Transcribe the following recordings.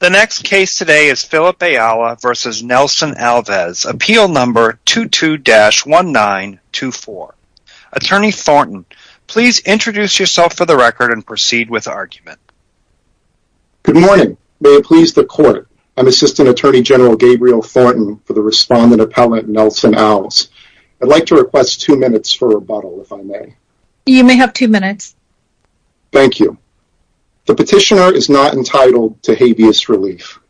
The next case today is Philip Ayala v. Nelson Alves. Appeal number 22-1924. Attorney Thornton, please introduce yourself for the record and proceed with argument. Good morning. May it please the Court, I'm Assistant Attorney General Gabriel Thornton for the Respondent Appellant Nelson Alves. I'd like to request two minutes for rebuttal, if I may. You may have two minutes. Thank you. The petitioner is not entitled to habeas relief.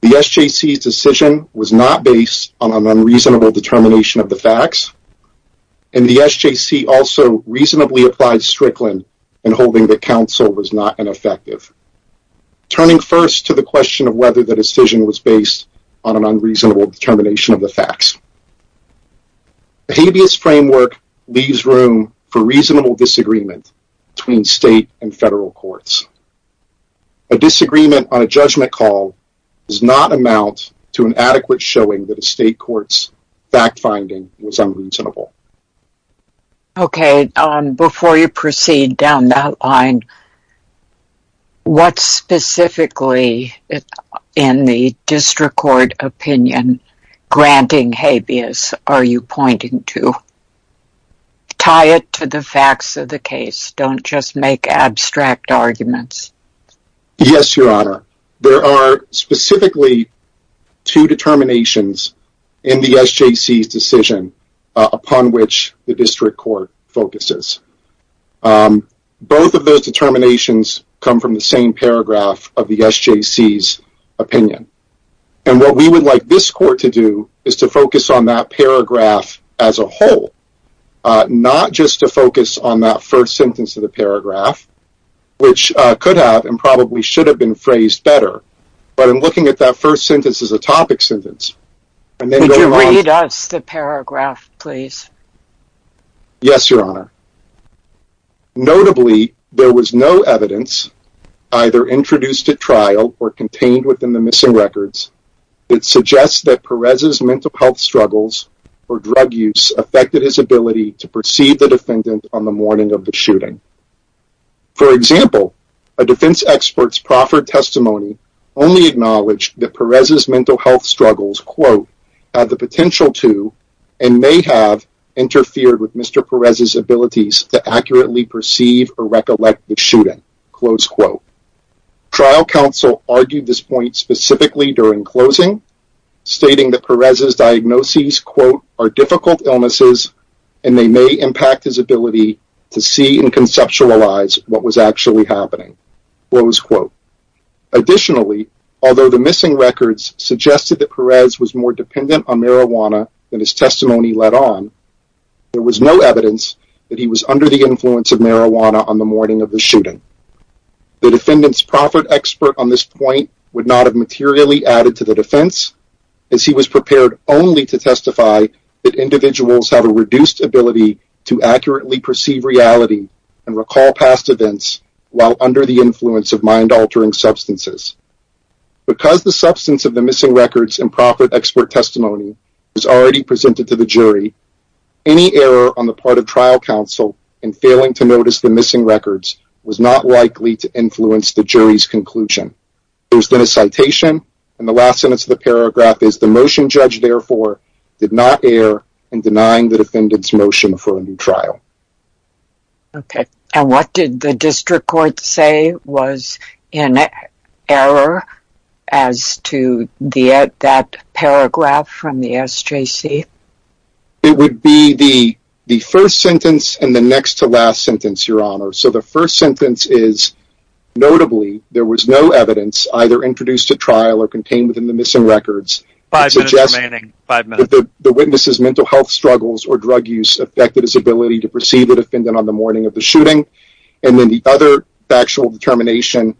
The SJC's decision was not based on an unreasonable determination of the facts, and the SJC also reasonably applied Strickland in holding that counsel was not ineffective, turning first to the question of whether the decision was based on an unreasonable determination of the facts. The habeas framework leaves room for reasonable disagreement between state and federal courts. A disagreement on a judgment call does not amount to an adequate showing that a state court's fact-finding was unreasonable. Okay, before you proceed down that line, what specifically in the district court opinion granting habeas are you pointing to? Tie it to the facts of the case. Don't just make abstract arguments. Yes, Your Honor. There are specifically two determinations in the SJC's decision upon which the district court focuses. Both of those determinations come from the same paragraph of the SJC's opinion. And what we would like this court to do is to focus on that paragraph as a whole, not just to focus on that first sentence of the paragraph, which could have and probably should have been phrased better, but in looking at that first sentence as a topic sentence. Would you read us the paragraph, please? Yes, Your Honor. Notably, there was no evidence either introduced at trial or contained within the missing records that suggests that Perez's mental health struggles or drug use affected his ability to perceive the defendant on the morning of the shooting. For example, a defense expert's proffered testimony only acknowledged that Perez's mental health struggles have the potential to and may have interfered with Mr. Perez's abilities to accurately perceive or recollect the shooting. Trial counsel argued this point specifically during closing, stating that Perez's diagnoses are difficult illnesses and they may impact his ability to see and conceptualize what was actually happening. Additionally, although the missing records suggested that Perez was more dependent on marijuana than his testimony led on, there was no evidence that he was under the influence of marijuana on the morning of the shooting. The defendant's proffered expert on this point would not have materially added to the defense, as he was prepared only to testify that individuals have a reduced ability to accurately perceive reality and recall past events while under the influence of mind-altering substances. Because the substance of the missing records and proffered expert testimony was already presented to the jury, any error on the part of trial counsel in failing to notice the missing records was not likely to influence the jury's conclusion. There has been a citation, and the last sentence of the paragraph is, the motion judged, therefore, did not err in denying the defendant's motion for a new trial. Okay, and what did the district court say was an error as to that paragraph from the SJC? It would be the first sentence and the next to last sentence, Your Honor. So the first sentence is, notably, there was no evidence either introduced at trial or contained within the missing records. Five minutes remaining. Five minutes. The witness's mental health struggles or drug use affected his ability to perceive the defendant on the morning of the shooting. And then the other factual determination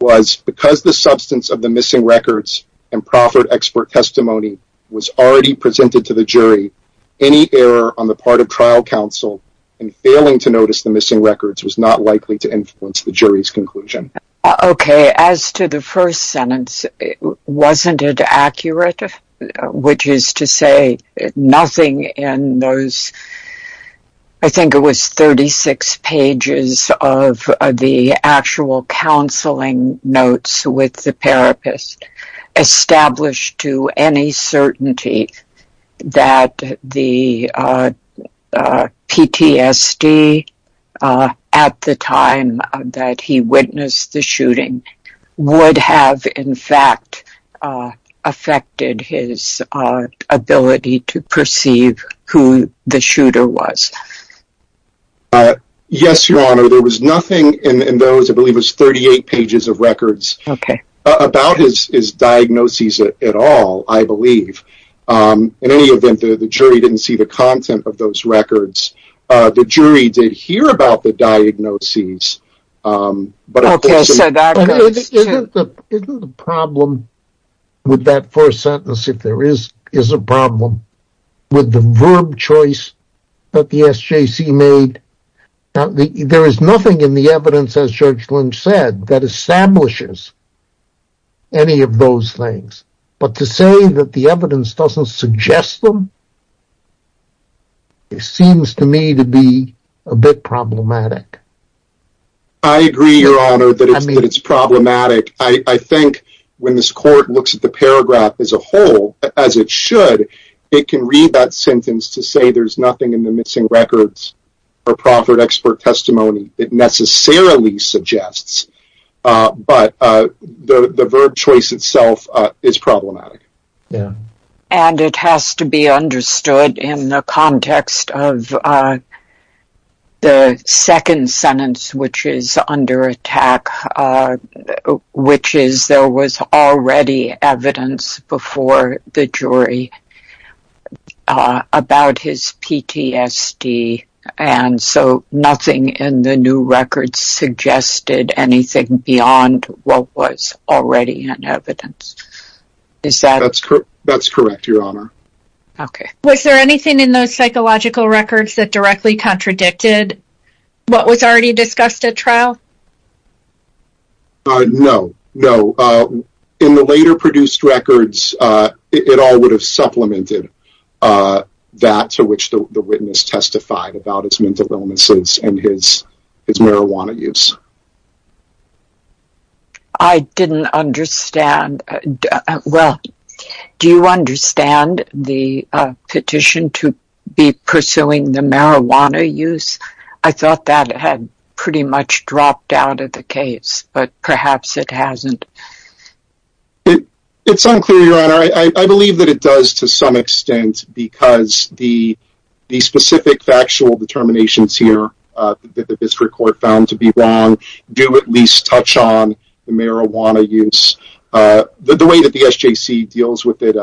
was, because the substance of the missing records and proffered expert testimony was already presented to the jury, any error on the part of trial counsel in failing to notice the missing records was not likely to influence the jury's conclusion. Okay, as to the first sentence, wasn't it accurate? Which is to say, nothing in those, I think it was 36 pages of the actual counseling notes with the therapist established to any certainty that the PTSD at the time that he witnessed the shooting would have, in fact, affected his ability to perceive who the shooter was. Yes, Your Honor, there was nothing in those, I believe it was 38 pages of records, about his diagnoses at all, I believe. In any event, the jury didn't see the content of those records. The jury did hear about the diagnoses. Isn't the problem with that first sentence, if there is a problem, with the verb choice that the SJC made? There is nothing in the evidence, as Judge Lynch said, that establishes any of those things. But to say that the evidence doesn't suggest them, it seems to me to be a bit problematic. I agree, Your Honor, that it's problematic. I think when this court looks at the paragraph as a whole, as it should, it can read that sentence to say there's nothing in the missing records or proffered expert testimony that necessarily suggests, but the verb choice itself is problematic. And it has to be understood in the context of the second sentence, which is under attack, which is there was already evidence before the jury about his PTSD, and so nothing in the new records suggested anything beyond what was already in evidence. That's correct, Your Honor. Okay. Was there anything in those psychological records that directly contradicted what was already discussed at trial? No. No. In the later produced records, it all would have supplemented that to which the witness testified about his mental illnesses and his marijuana use. I didn't understand. Well, do you understand the petition to be pursuing the marijuana use? I thought that had pretty much dropped out of the case, but perhaps it hasn't. It's unclear, Your Honor. I believe that it does to some extent because the specific factual determinations here that the district court found to be wrong do at least touch on the marijuana use. The way that the SJC deals with it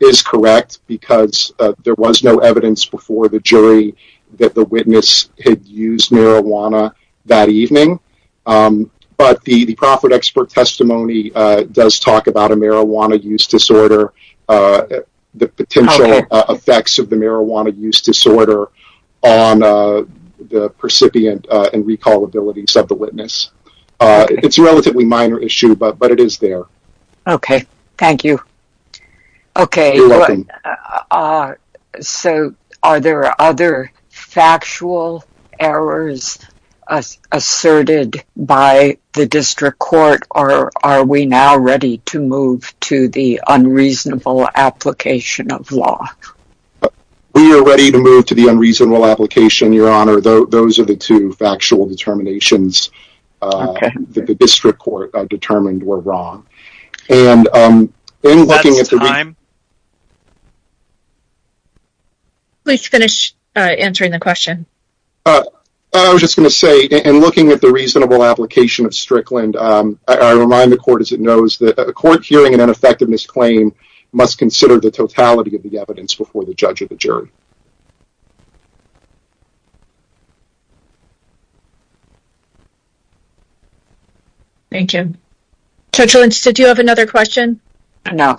is correct because there was no evidence before the jury that the witness had used marijuana that evening, but the profit expert testimony does talk about a marijuana use disorder, the potential effects of the marijuana use disorder on the percipient and recall abilities of the witness. It's a relatively minor issue, but it is there. Okay. Thank you. You're welcome. Are there other factual errors asserted by the district court, or are we now ready to move to the unreasonable application of law? We are ready to move to the unreasonable application, Your Honor. Those are the two factual determinations that the district court determined were wrong. Is that time? Please finish answering the question. I was just going to say, in looking at the reasonable application of Strickland, I remind the court, as it knows, that a court hearing an ineffectiveness claim must consider the totality of the evidence before the judge or the jury. Thank you. Judge Lynch, did you have another question? No.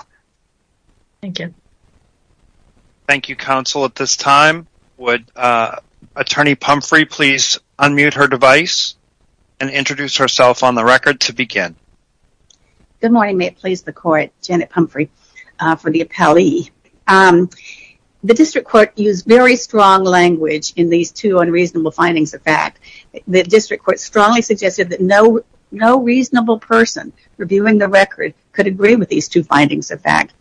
Thank you. Thank you, counsel. At this time, would Attorney Pumphrey please unmute her device and introduce herself on the record to begin? Good morning. May it please the court, Janet Pumphrey for the appellee. The district court used very strong language in these two unreasonable findings of fact. The district court strongly suggested that no reasonable person reviewing the record could agree with these two findings of fact.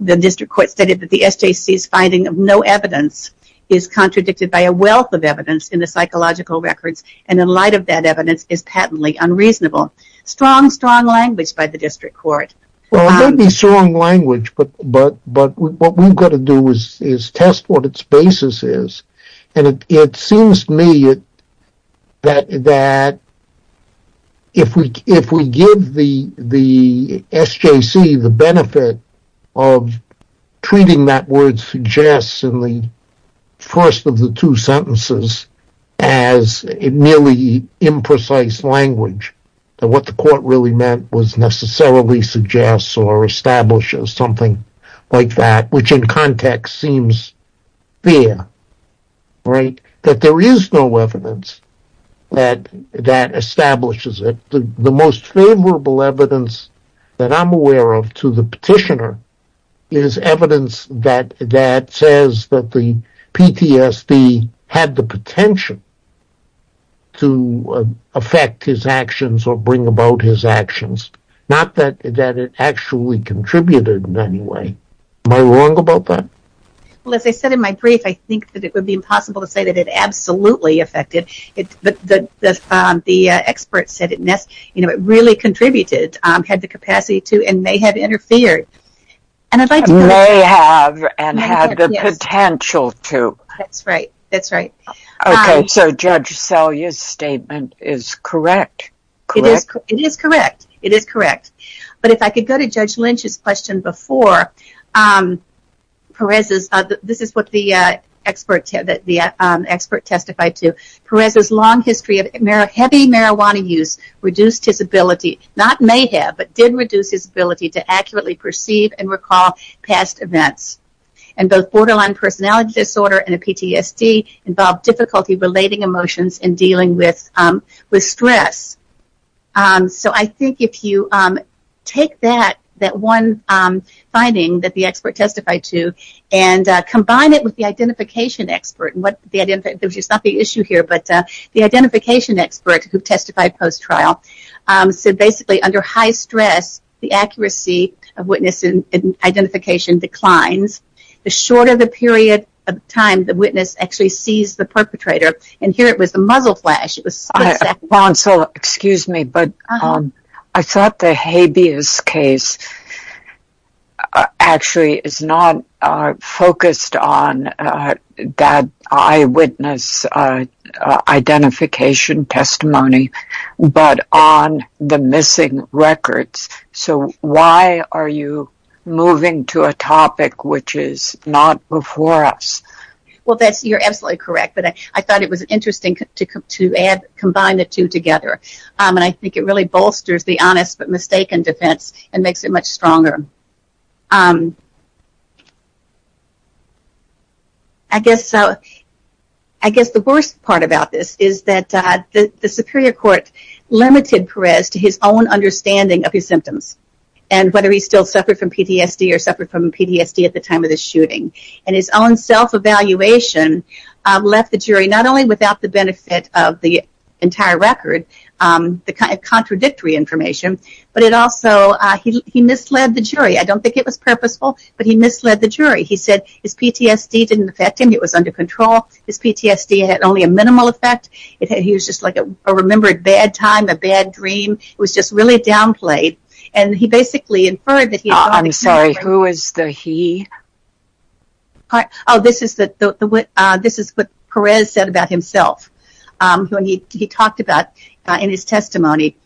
The district court stated that the SJC's finding of no evidence is contradicted by a wealth of evidence in the psychological records, and in light of that evidence is patently unreasonable. Strong, strong language by the district court. Well, it may be strong language, but what we've got to do is test what its basis is. And it seems to me that if we give the SJC the benefit of treating that word suggests in the first of the two sentences as merely imprecise language, that what the court really meant was necessarily suggests or establishes something like that, which in context seems fair, right? That there is no evidence that establishes it. The most favorable evidence that I'm aware of to the petitioner is evidence that says that the PTSD had the potential to affect his actions or bring about his actions. Not that it actually contributed in any way. Am I wrong about that? Well, as I said in my brief, I think that it would be impossible to say that it absolutely affected. But the experts said it really contributed, had the capacity to, and may have interfered. May have and had the potential to. That's right, that's right. Okay, so Judge Selye's statement is correct, correct? It is correct, it is correct. But if I could go to Judge Lynch's question before, Perez's, this is what the expert testified to. Perez's long history of heavy marijuana use reduced his ability, not may have, but did reduce his ability to accurately perceive and recall past events. And both borderline personality disorder and a PTSD involve difficulty relating emotions and dealing with stress. So I think if you take that, that one finding that the expert testified to, and combine it with the identification expert, which is not the issue here, but the identification expert who testified post-trial, so basically under high stress, the accuracy of witness identification declines. The shorter the period of time the witness actually sees the perpetrator, and here it was the muzzle flash. Counsel, excuse me, but I thought the habeas case actually is not focused on that eyewitness identification testimony, but on the missing records. So why are you moving to a topic which is not before us? Well, you're absolutely correct, but I thought it was interesting to combine the two together. And I think it really bolsters the honest but mistaken defense and makes it much stronger. I guess the worst part about this is that the superior court limited Perez to his own understanding of his symptoms, and whether he still suffered from PTSD or suffered from PTSD at the time of the shooting. And his own self-evaluation left the jury not only without the benefit of the entire record, the kind of contradictory information, but it also, he misled the jury. I don't think it was purposeful, but he misled the jury. He said his PTSD didn't affect him, it was under control. His PTSD had only a minimal effect. He was just like a remembered bad time, a bad dream. It was just really downplayed. I'm sorry, who is the he? Oh, this is what Perez said about himself when he talked about in his testimony.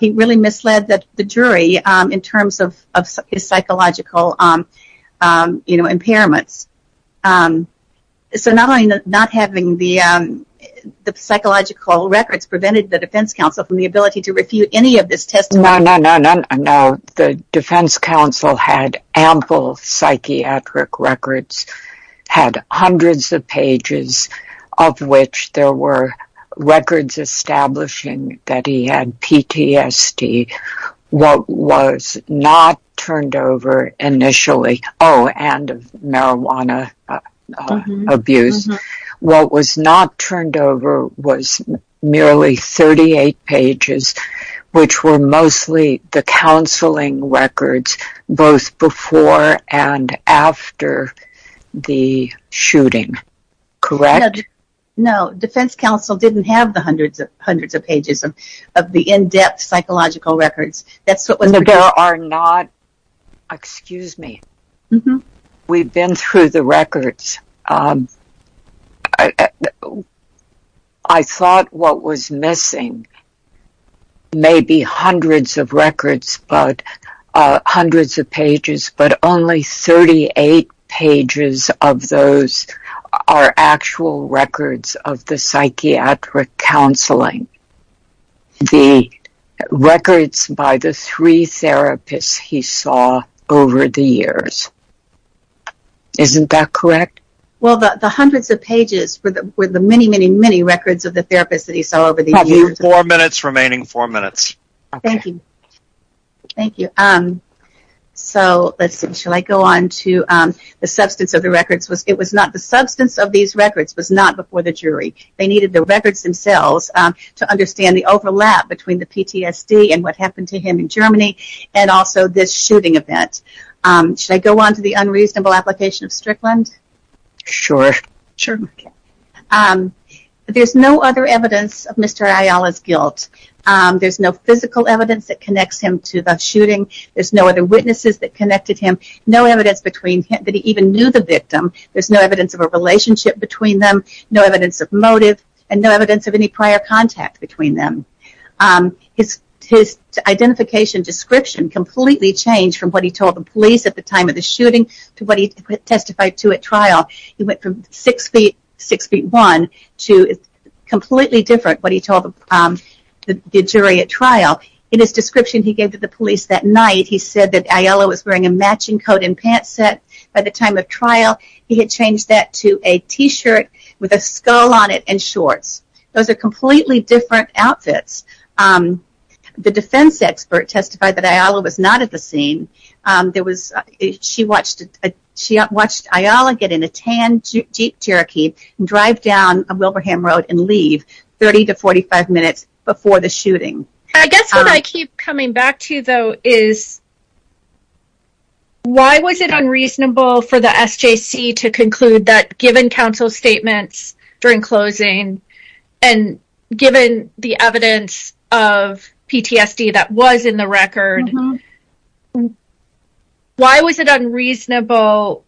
He really misled the jury in terms of his psychological impairments. So not having the psychological records prevented the defense counsel from the ability to refute any of this testimony. No, no, no, no, no. The defense counsel had ample psychiatric records, had hundreds of pages, of which there were records establishing that he had PTSD. What was not turned over initially, oh, and marijuana abuse. What was not turned over was merely 38 pages, which were mostly the counseling records, both before and after the shooting, correct? No, defense counsel didn't have the hundreds of pages of the in-depth psychological records. There are not, excuse me. We've been through the records. I thought what was missing may be hundreds of records, hundreds of pages, but only 38 pages of those are actual records of the psychiatric counseling. The records by the three therapists he saw over the years. Isn't that correct? Well, the hundreds of pages were the many, many, many records of the therapists that he saw over the years. Four minutes remaining, four minutes. Okay. Thank you. Thank you. So let's see. Shall I go on to the substance of the records? The substance of these records was not before the jury. They needed the records themselves to understand the overlap between the PTSD and what happened to him in Germany and also this shooting event. Should I go on to the unreasonable application of Strickland? Sure. Sure. There's no other evidence of Mr. Ayala's guilt. There's no physical evidence that connects him to the shooting. There's no other witnesses that connected him, no evidence that he even knew the victim. There's no evidence of a relationship between them, no evidence of motive, and no evidence of any prior contact between them. His identification description completely changed from what he told the police at the time of the shooting to what he testified to at trial. He went from six feet, six feet one to completely different what he told the jury at trial. In his description he gave to the police that night, he said that Ayala was wearing a matching coat and pants set. By the time of trial, he had changed that to a T-shirt with a skull on it and shorts. Those are completely different outfits. The defense expert testified that Ayala was not at the scene. She watched Ayala get in a tan Jeep Cherokee and drive down Wilberham Road I guess what I keep coming back to though is, why was it unreasonable for the SJC to conclude that given counsel's statements during closing and given the evidence of PTSD that was in the record, why was it unreasonable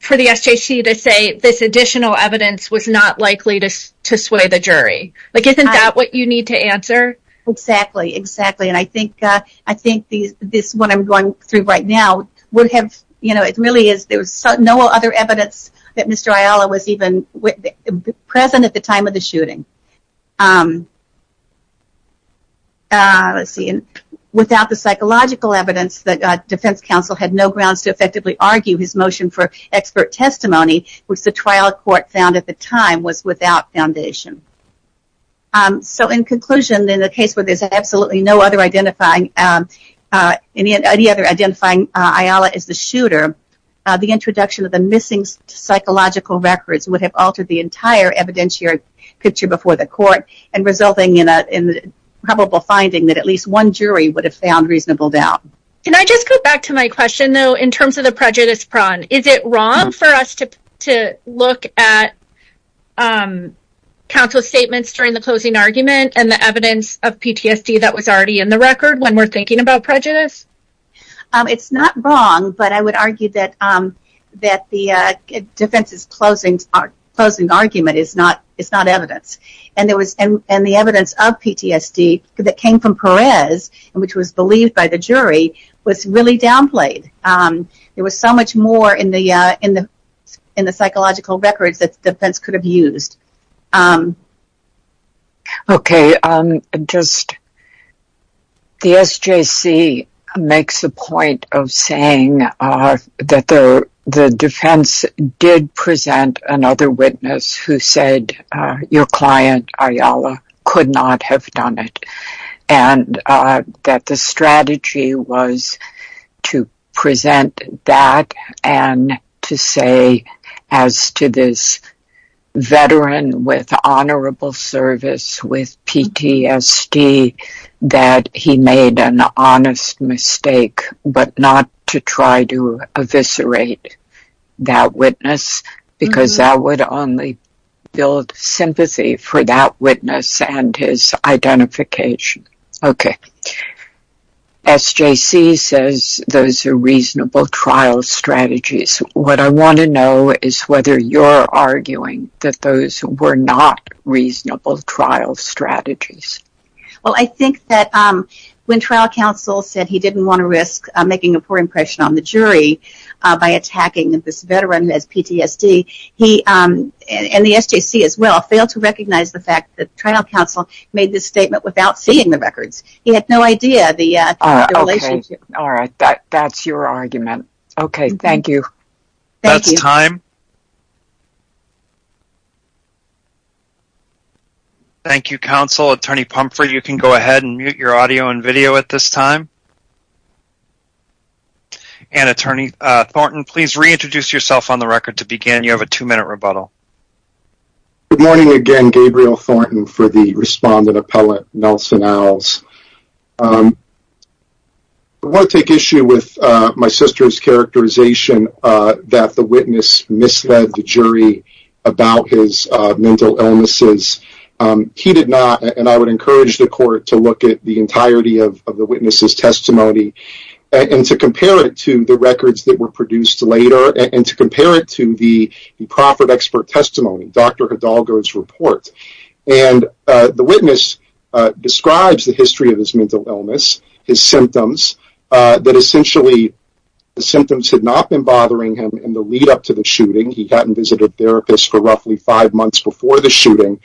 for the SJC to say this additional evidence was not likely to sway the jury? Isn't that what you need to answer? Exactly, exactly. I think what I'm going through right now, there was no other evidence that Mr. Ayala was even present at the time of the shooting. Without the psychological evidence, the defense counsel had no grounds to effectively argue his motion for expert testimony which the trial court found at the time was without foundation. So in conclusion, in a case where there's absolutely no other identifying Ayala as the shooter, the introduction of the missing psychological records would have altered the entire evidentiary picture before the court and resulting in a probable finding that at least one jury would have found reasonable doubt. Can I just go back to my question though in terms of the prejudice prong? Is it wrong for us to look at counsel's statements during the closing argument and the evidence of PTSD that was already in the record when we're thinking about prejudice? It's not wrong, but I would argue that the defense's closing argument is not evidence. And the evidence of PTSD that came from Perez, which was believed by the jury, was really downplayed. There was so much more in the psychological records that the defense could have used. Okay. The SJC makes a point of saying that the defense did present another witness who said, your client, Ayala, could not have done it. And that the strategy was to present that and to say as to this veteran with honorable service with PTSD that he made an honest mistake, but not to try to eviscerate that witness because that would only build sympathy for that witness and his identification. Okay. SJC says those are reasonable trial strategies. What I want to know is whether you're arguing that those were not reasonable trial strategies. Well, I think that when trial counsel said he didn't want to risk making a poor impression on the jury by attacking this veteran who has PTSD, he, and the SJC as well, failed to recognize the fact that trial counsel made this statement without seeing the records. He had no idea the relationship. Okay. All right. That's your argument. Okay. Thank you. That's time. Thank you, counsel. Attorney Pumphrey, you can go ahead and mute your audio and video at this time. And, Attorney Thornton, please reintroduce yourself on the record to begin. You have a two-minute rebuttal. Good morning again, Gabriel Thornton, for the respondent appellate, Nelson Owls. I want to take issue with my sister's characterization that the witness misled the jury about his mental illnesses. He did not, and I would encourage the court to look at the entirety of the witness's testimony and to compare it to the records that were produced later and to compare it to the proffered expert testimony, Dr. Hidalgo's report. And the witness describes the history of his mental illness, his symptoms, that essentially the symptoms had not been bothering him in the lead-up to the shooting. He hadn't visited therapists for roughly five months before the shooting.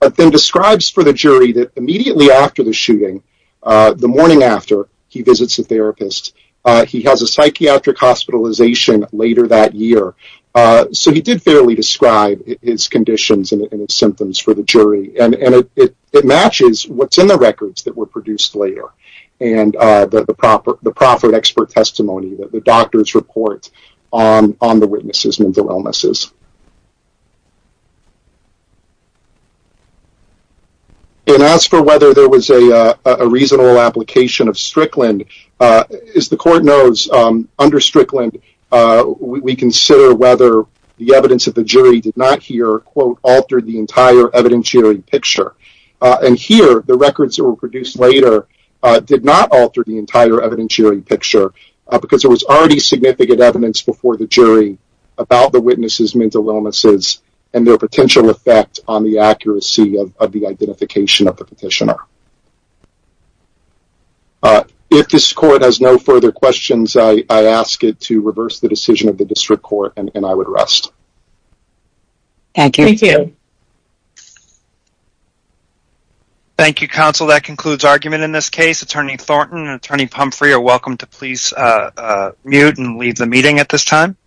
But then describes for the jury that immediately after the shooting, the morning after, he visits a therapist. He has a psychiatric hospitalization later that year. So he did fairly describe his conditions and his symptoms for the jury, and it matches what's in the records that were produced later and the proffered expert testimony that the doctors report on the witness's mental illnesses. And as for whether there was a reasonable application of Strickland, as the court knows, under Strickland we consider whether the evidence of the jury did not here, quote, alter the entire evidentiary picture. And here the records that were produced later did not alter the entire evidentiary picture because there was already significant evidence before the jury about the witness's mental illnesses and their potential effect on the accuracy of the identification of the petitioner. If this court has no further questions, I ask it to reverse the decision of the district court, and I would rest. Thank you. Thank you, counsel. That concludes argument in this case. Attorney Thornton and Attorney Pumphrey are welcome to please mute and leave the meeting at this time.